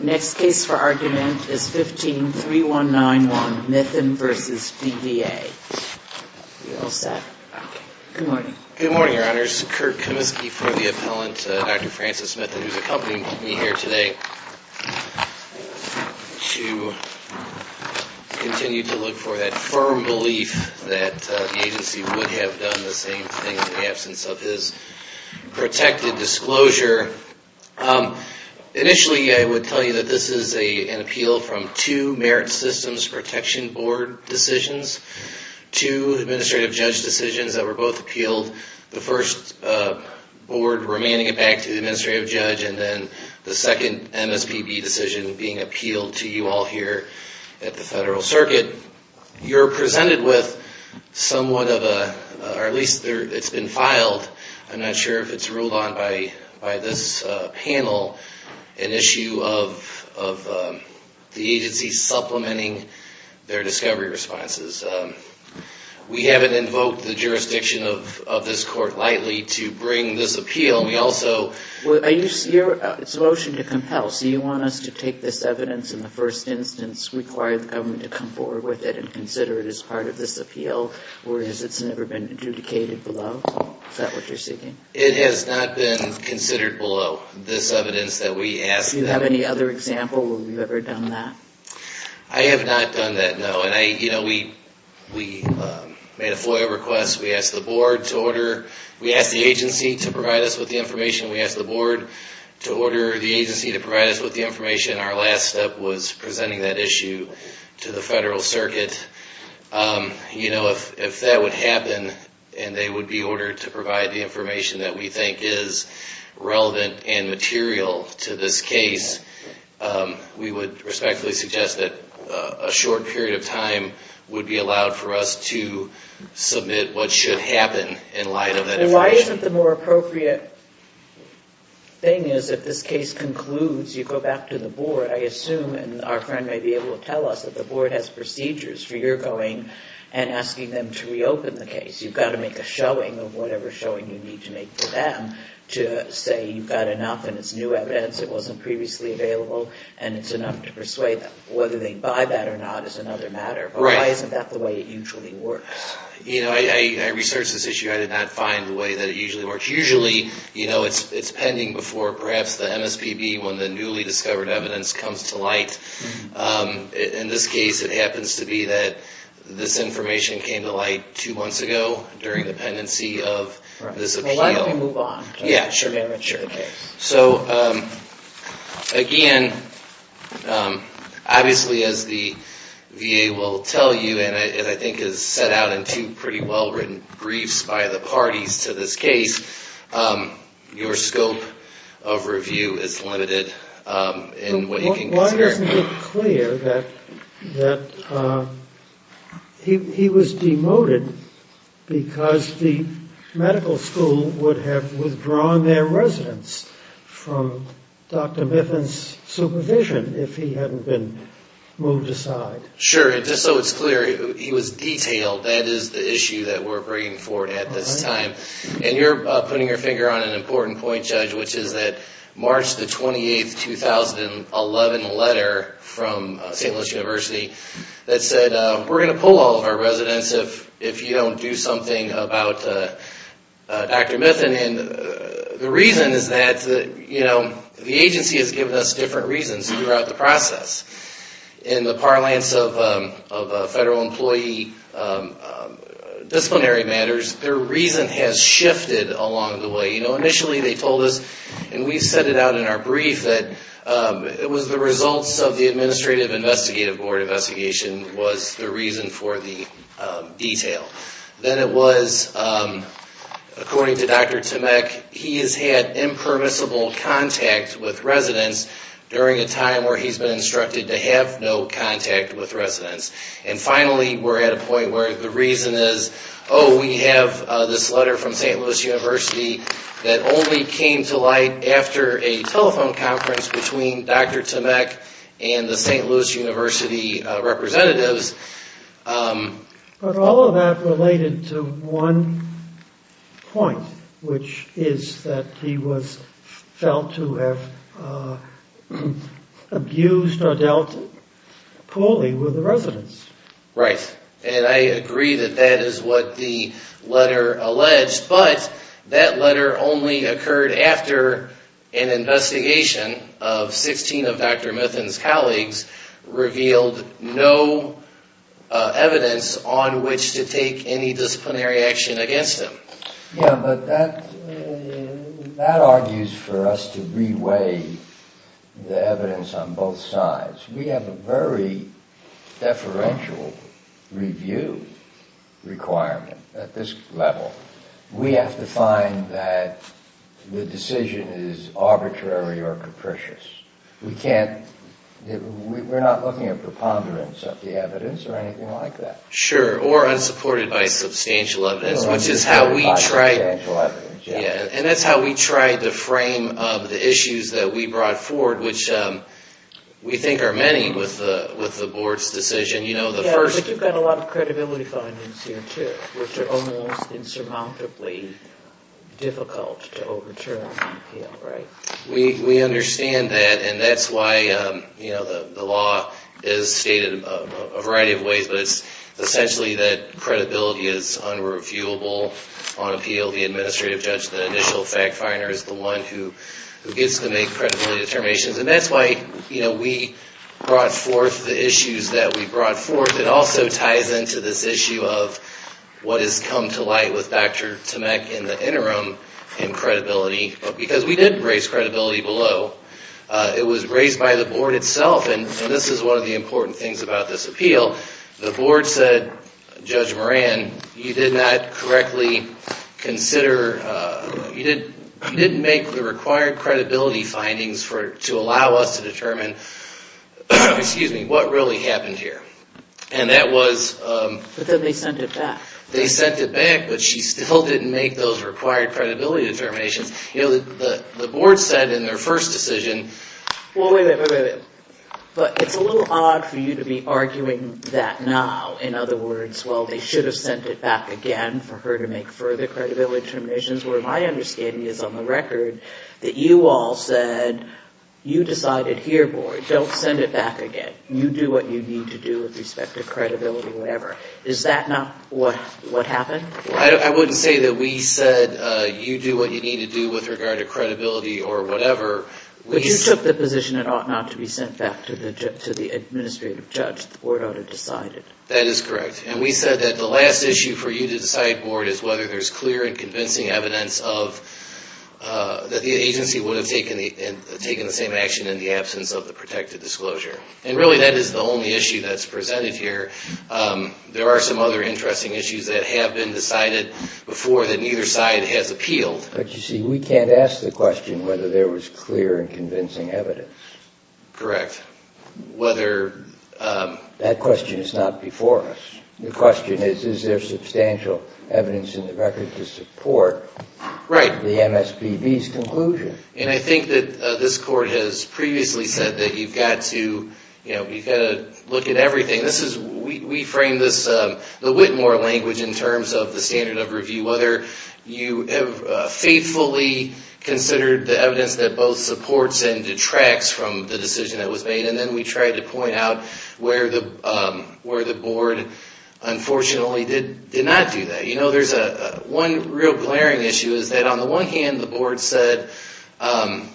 Next case for argument is 15-3191, Mithen v. DVA. Good morning, your honors. Kirk Comiskey for the appellant, Dr. Francis Mithen, who's accompanying me here today to continue to look for that firm belief that the agency would have done the same thing in the absence of his protected disclosure. Initially, I would tell you that this is an appeal from two Merit Systems Protection Board decisions, two administrative judge decisions that were both appealed. The first board remanding it back to the administrative judge, and then the second MSPB decision being appealed to you all here at the Federal Circuit. You're presented with somewhat of a, or at least it's been filed. I'm not sure if it's ruled on by this panel, an issue of the agency supplementing their discovery responses. We haven't invoked the jurisdiction of this court lightly to bring this appeal. We also... Your motion to compel, so you want us to take this evidence in the first instance, require the government to come forward with it and consider it as part of this appeal, whereas it's never been adjudicated below? Is that what you're seeking? It has not been considered below, this evidence that we asked. Do you have any other example where you've ever done that? I have not done that, no. We made a FOIA request. We asked the agency to provide us with the information. We asked the board to order the agency to provide us with the information. Our last step was presenting that issue to the Federal Circuit. If that would happen and they would be ordered to provide the information that we think is relevant and material to this case, we would respectfully suggest that a short period of time would be allowed for us to submit what should happen in light of that information. Why isn't the more appropriate thing is if this case concludes, you go back to the board, I assume, and our friend may be able to tell us, that the board has procedures for your going and asking them to reopen the case. You've got to make a showing of whatever showing you need to make for them to say you've got enough and it's new evidence, it wasn't previously available, and it's enough to persuade them. Whether they buy that or not is another matter, but why isn't that the way it usually works? I researched this issue. I did not find the way that it usually works. Usually, it's pending before perhaps the MSPB when the newly discovered evidence comes to light. In this case, it happens to be that this information came to light two months ago during the pendency of this appeal. Why don't we move on to a more mature case? So, again, obviously, as the VA will tell you, and I think is set out in two pretty well-written briefs by the parties to this case, your scope of review is limited in what you can consider. It doesn't look clear that he was demoted because the medical school would have withdrawn their residents from Dr. Miffen's supervision if he hadn't been moved aside. Sure. Just so it's clear, he was detailed. That is the issue that we're bringing forward at this time. You're putting your finger on an important point, Judge, which is that March 28, 2011 letter from St. Louis University that said, we're going to pull all of our residents if you don't do something about Dr. Miffen. The reason is that the agency has given us different reasons throughout the process. In the parlance of federal employee disciplinary matters, their reason has shifted along the way. Initially, they told us, and we set it out in our brief, that it was the results of the administrative investigative board investigation was the reason for the detail. Then it was, according to Dr. Tamek, he has had impermissible contact with residents during a time where he's been instructed to have no contact with residents. And finally, we're at a point where the reason is, oh, we have this letter from St. Louis University that only came to light after a telephone conference between Dr. Tamek and the St. Louis University representatives. But all of that related to one point, which is that he was felt to have abused or dealt poorly with the residents. Right, and I agree that that is what the letter alleged, but that letter only occurred after an investigation of 16 of Dr. Miffen's colleagues revealed no evidence on which to take any disciplinary action against him. Yeah, but that argues for us to re-weigh the evidence on both sides. We have a very deferential review requirement at this level. We have to find that the decision is arbitrary or capricious. We can't, we're not looking at preponderance of the evidence or anything like that. Sure, or unsupported by substantial evidence, which is how we try to frame the issues that we brought forward, which we think are many with the board's decision. Yeah, but you've got a lot of credibility findings here too, which are almost insurmountably difficult to overturn. We understand that, and that's why the law is stated a variety of ways, but it's essentially that credibility is unreviewable on appeal. The administrative judge, the initial fact finder, is the one who gets to make credibility determinations. That's why we brought forth the issues that we brought forth. It also ties into this issue of what has come to light with Dr. Tomek in the interim in credibility, because we didn't raise credibility below. It was raised by the board itself, and this is one of the important things about this appeal. The board said, Judge Moran, you did not correctly consider, you didn't make the required credibility findings to allow us to determine what really happened here. But then they sent it back. They sent it back, but she still didn't make those required credibility determinations. The board said in their first decision... Is that not what happened? I wouldn't say that we said you do what you need to do with regard to credibility or whatever. But you took the position it ought not to be sent back to the administrative judge. The board ought to decide it. That is correct, and we said that the last issue for you to decide, board, is whether there's clear and convincing evidence that the agency would have taken the same action in the absence of the protected disclosure. And really, that is the only issue that's presented here. There are some other interesting issues that have been decided before that neither side has appealed. But you see, we can't ask the question whether there was clear and convincing evidence. Correct. That question is not before us. The question is, is there substantial evidence in the record to support the MSPB's conclusion? And I think that this court has previously said that you've got to look at everything. We framed the Whitmore language in terms of the standard of review, whether you faithfully considered the evidence that both supports and detracts from the decision that was made. And then we tried to point out where the board, unfortunately, did not do that. One real glaring issue is that on the one hand, the board said there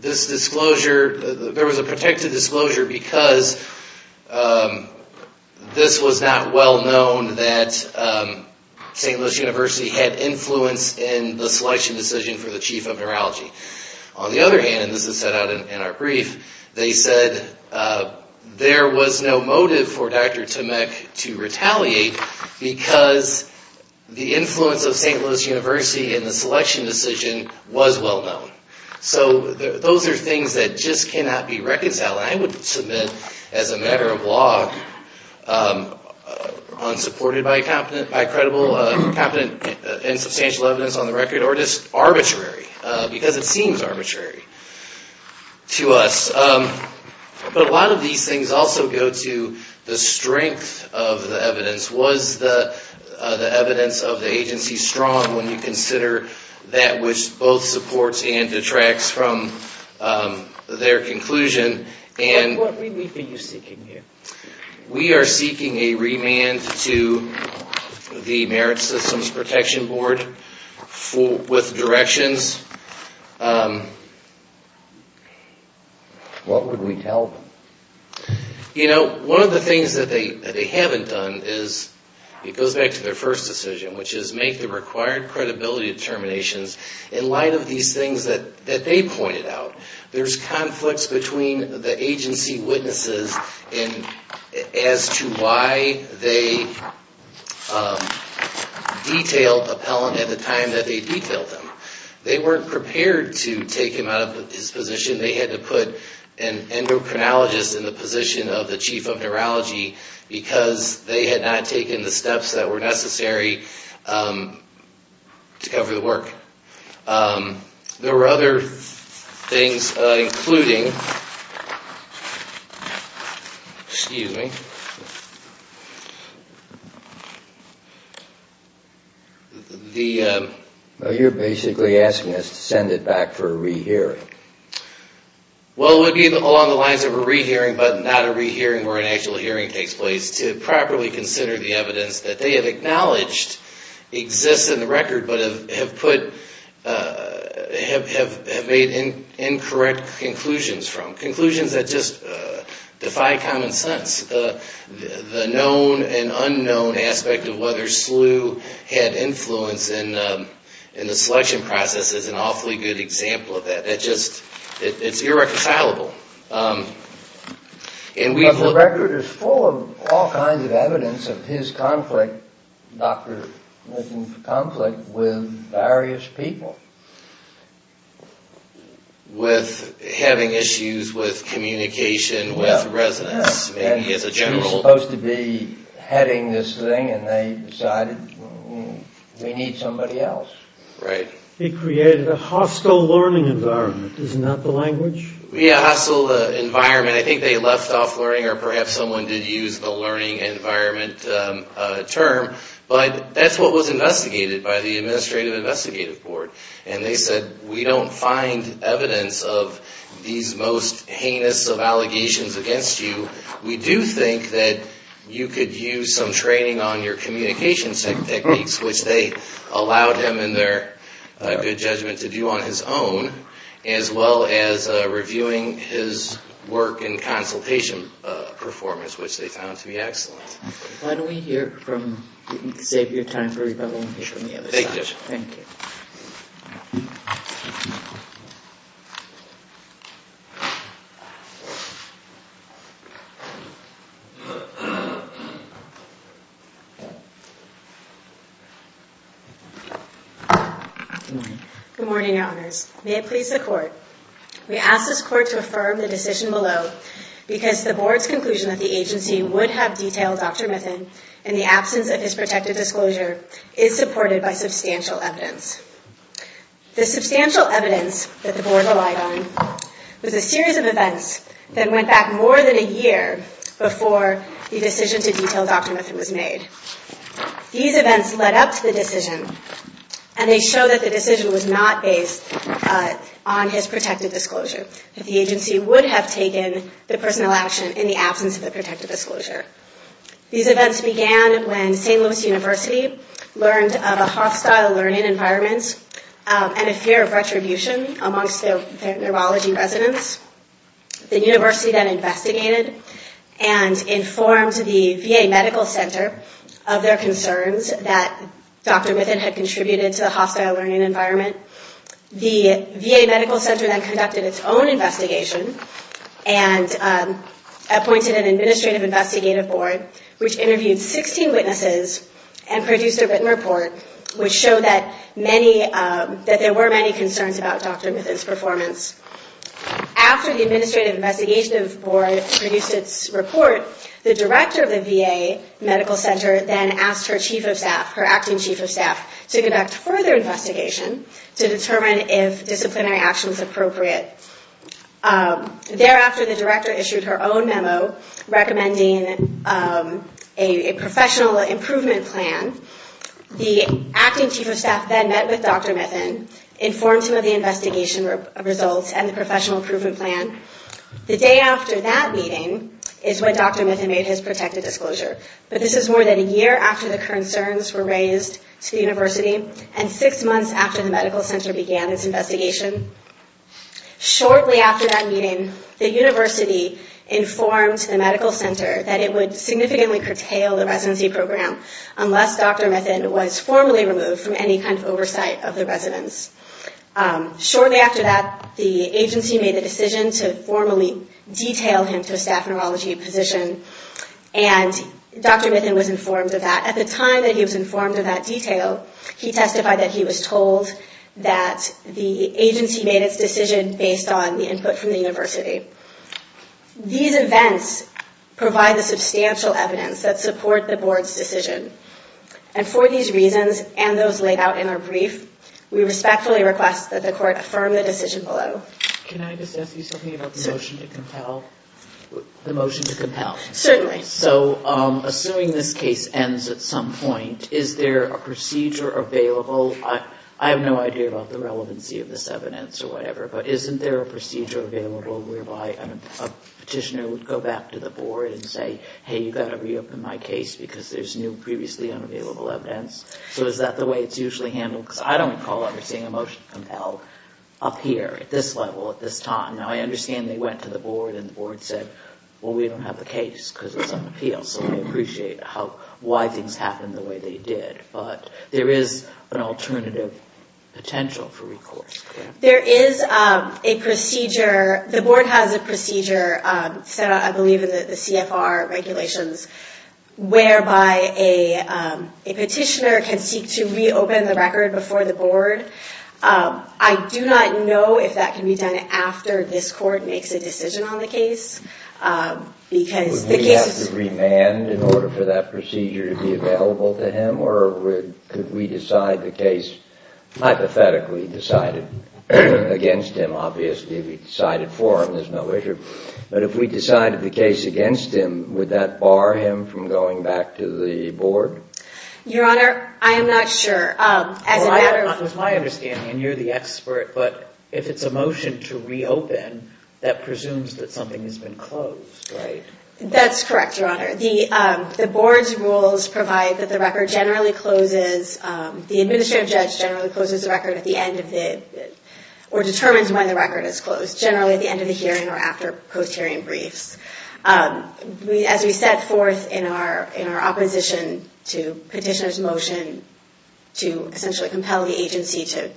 was a protected disclosure because this was not well known that St. Louis University had influence in the selection decision for the chief of neurology. On the other hand, and this is set out in our brief, they said there was no motive for Dr. Tomek to retaliate because the influence of St. Louis University in the selection decision was well known. So those are things that just cannot be reconciled. I would submit, as a matter of law, unsupported by competent and substantial evidence on the record, or just arbitrary, because it seems arbitrary to us. But a lot of these things also go to the strength of the evidence. Was the evidence of the agency strong when you consider that which both supports and detracts from their conclusion? What remand are you seeking here? We are seeking a remand to the Merit Systems Protection Board with directions. What would we tell them? You know, one of the things that they haven't done is, it goes back to their first decision, which is make the required credibility determinations in light of these things that they pointed out. There's conflicts between the agency witnesses as to why they detailed appellant at the time that they detailed him. They weren't prepared to take him out of his position. They had to put an endocrinologist in the position of the chief of neurology because they had not taken the steps that were necessary to cover the work. There were other things including, excuse me, the... You're basically asking us to send it back for a rehearing. Well, it would be along the lines of a rehearing but not a rehearing where an actual hearing takes place to properly consider the evidence that they have acknowledged exists in the record but have made incorrect conclusions from. Conclusions that just defy common sense. The known and unknown aspect of whether Slew had influence in the selection process is an awfully good example of that. It's irreconcilable. The record is full of all kinds of evidence of his conflict, Dr. Milton's conflict, with various people. With having issues with communication with residents. He was supposed to be heading this thing and they decided we need somebody else. He created a hostile learning environment, isn't that the language? Yeah, hostile environment. I think they left off learning or perhaps someone did use the learning environment term. But that's what was investigated by the Administrative Investigative Board. And they said we don't find evidence of these most heinous of allegations against you. We do think that you could use some training on your communication techniques, which they allowed him in their good judgment to do on his own. As well as reviewing his work in consultation performance, which they found to be excellent. Why don't we save your time for rebuttal and hear from the other side. Thank you, Judge. Thank you. Good morning, Your Honors. May it please the Court. We ask this Court to affirm the decision below because the Board's conclusion that the agency would have detailed Dr. Milton in the absence of his protected disclosure is supported by substantial evidence. The substantial evidence that the Board relied on was a series of events that went back more than a year before the decision to detail Dr. Milton was made. These events led up to the decision and they show that the decision was not based on his protected disclosure. That the agency would have taken the personnel action in the absence of the protected disclosure. These events began when St. Louis University learned of a hostile learning environment and a fear of retribution amongst the neurology residents. The university then investigated and informed the VA Medical Center of their concerns that Dr. Milton had contributed to the hostile learning environment. The VA Medical Center then conducted its own investigation and appointed an administrative investigative board which interviewed 16 witnesses and produced a written report which showed that there were many concerns about Dr. Milton's performance. After the administrative investigative board produced its report, the director of the VA Medical Center then asked her chief of staff, her acting chief of staff, to conduct further investigation to determine if disciplinary action was appropriate. Thereafter, the director issued her own memo recommending a professional improvement plan. The acting chief of staff then met with Dr. Milton, informed him of the investigation results and the professional improvement plan. The day after that meeting is when Dr. Milton made his protected disclosure. But this is more than a year after the concerns were raised to the university and six months after the medical center began its investigation. Shortly after that meeting, the university informed the medical center that it would significantly curtail the residency program unless Dr. Milton was formally removed from any kind of oversight of the residents. Shortly after that, the agency made a decision to formally detail him to a staff neurology position and Dr. Milton was informed of that. At the time that he was informed of that detail, he testified that he was told that the agency made its decision based on the input from the university. These events provide the substantial evidence that support the board's decision. And for these reasons and those laid out in our brief, we respectfully request that the court affirm the decision below. Can I just ask you something about the motion to compel? The motion to compel? Certainly. So assuming this case ends at some point, is there a procedure available? I have no idea about the relevancy of this evidence or whatever, but isn't there a procedure available whereby a petitioner would go back to the board and say, hey, you've got to reopen my case because there's new previously unavailable evidence? So is that the way it's usually handled? Because I don't recall ever seeing a motion to compel up here at this level at this time. Now, I understand they went to the board and the board said, well, we don't have the case because it's on appeal. So I appreciate why things happened the way they did. But there is an alternative potential for recourse, correct? There is a procedure. The board has a procedure set out, I believe, in the CFR regulations whereby a petitioner can seek to reopen the record before the board. I do not know if that can be done after this court makes a decision on the case. Would we have to remand in order for that procedure to be available to him? Or could we decide the case hypothetically decided against him? Obviously, if we decided for him, there's no issue. But if we decided the case against him, would that bar him from going back to the board? Your Honor, I am not sure. It was my understanding, and you're the expert, but if it's a motion to reopen, that presumes that something has been closed, right? That's correct, Your Honor. The board's rules provide that the record generally closes, the administrative judge generally closes the record at the end of the, or determines when the record is closed, generally at the end of the hearing or after post-hearing briefs. As we set forth in our opposition to petitioner's motion to essentially compel the agency to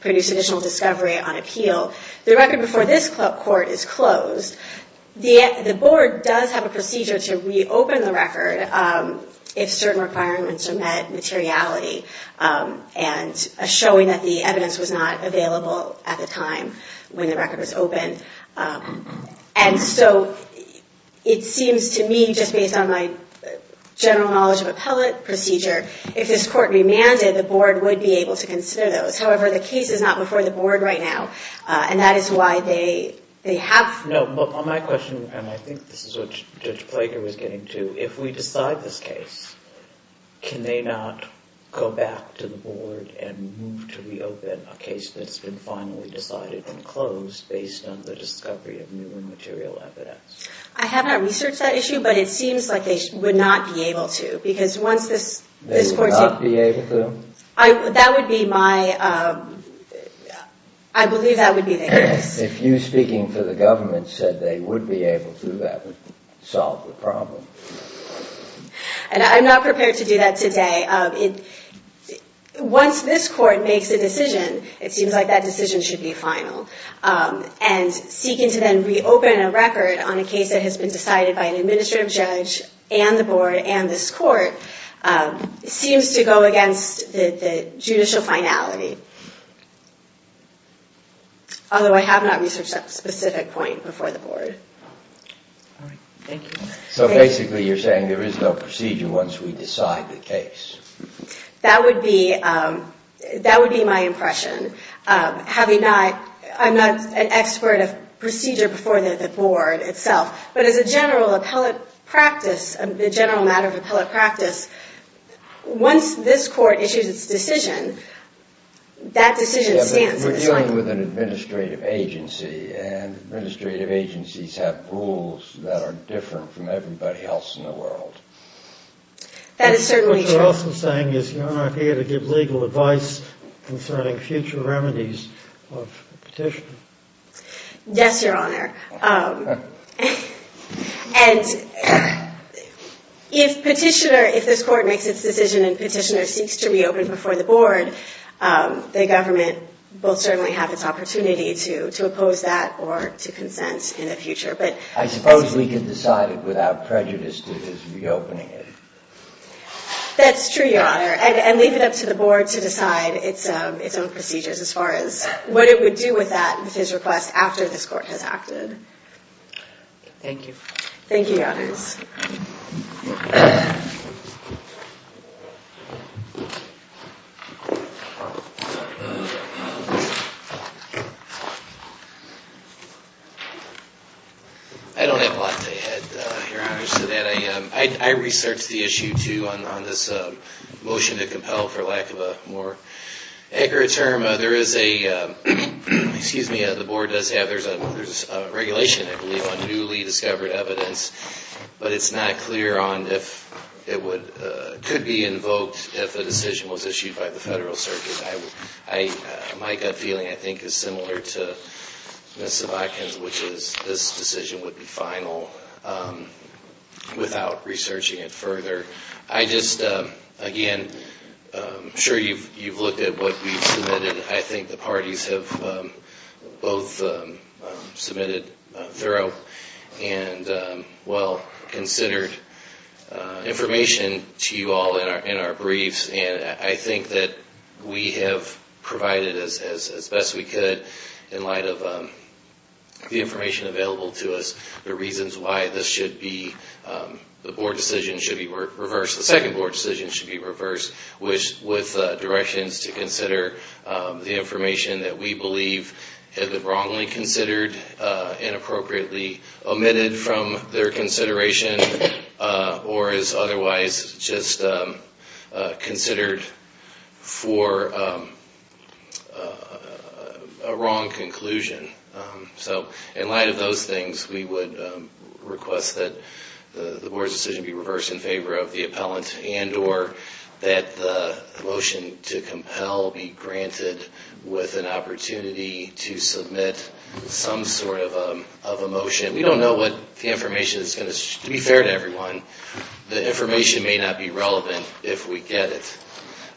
produce additional discovery on appeal, the record before this court is closed. The board does have a procedure to reopen the record if certain requirements are met, materiality, and showing that the evidence was not available at the time when the record was opened. And so it seems to me, just based on my general knowledge of appellate procedure, if this court remanded, the board would be able to consider those. However, the case is not before the board right now, and that is why they have... No, but my question, and I think this is what Judge Plager was getting to, if we decide this case, can they not go back to the board and move to reopen a case that's been finally decided and closed based on the discovery of new and material evidence? I have not researched that issue, but it seems like they would not be able to, because once this court... They would not be able to? That would be my... I believe that would be the case. If you, speaking for the government, said they would be able to, that would solve the problem. And I'm not prepared to do that today. Once this court makes a decision, it seems like that decision should be final. And seeking to then reopen a record on a case that has been decided by an administrative judge and the board and this court seems to go against the judicial finality. Although I have not researched that specific point before the board. All right, thank you. So basically you're saying there is no procedure once we decide the case. That would be my impression. I'm not an expert of procedure before the board itself, but as a general appellate practice, the general matter of appellate practice, once this court issues its decision, that decision stands. We're dealing with an administrative agency, and administrative agencies have rules that are different from everybody else in the world. That is certainly true. What you're also saying is you're not here to give legal advice concerning future remedies of petitioner. Yes, Your Honor. And if petitioner, if this court makes its decision and petitioner seeks to reopen before the board, the government will certainly have its opportunity to oppose that or to consent in the future. I suppose we could decide it without prejudice to reopening it. That's true, Your Honor, and leave it up to the board to decide its own procedures as far as what it would do with that, with his request after this court has acted. Thank you. Thank you, Your Honors. I don't have a lot to add, Your Honors, to that. I researched the issue, too, on this motion to compel, for lack of a more accurate term. There is a, excuse me, the board does have, there's a regulation, I believe, on newly discovered evidence, but it's not clear on if it could be invoked if a decision was issued by the federal circuit. My gut feeling, I think, is similar to Ms. Zavodkin's, which is this decision would be final without researching it further. I just, again, I'm sure you've looked at what we've submitted. I think the parties have both submitted thorough and well-considered information to you all in our briefs, and I think that we have provided, as best we could, in light of the information available to us, the reasons why this should be, the board decision should be reversed, the second board decision should be reversed with directions to consider the information that we believe is wrongly considered, inappropriately omitted from their consideration, or is otherwise just considered for a wrong conclusion. So in light of those things, we would request that the board's decision be reversed in favor of the appellant, and or that the motion to compel be granted with an opportunity to submit some sort of a motion. We don't know what the information is going to, to be fair to everyone, the information may not be relevant if we get it,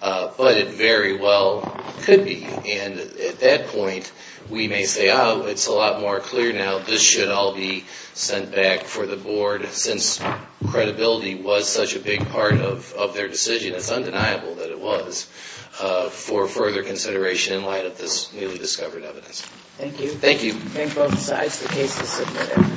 but it very well could be, and at that point, we may say, oh, it's a lot more clear now, this should all be sent back for the board, since credibility was such a big part of their decision, it's undeniable that it was, for further consideration in light of this newly discovered evidence. Thank you. Thank you. I think both sides of the case have submitted.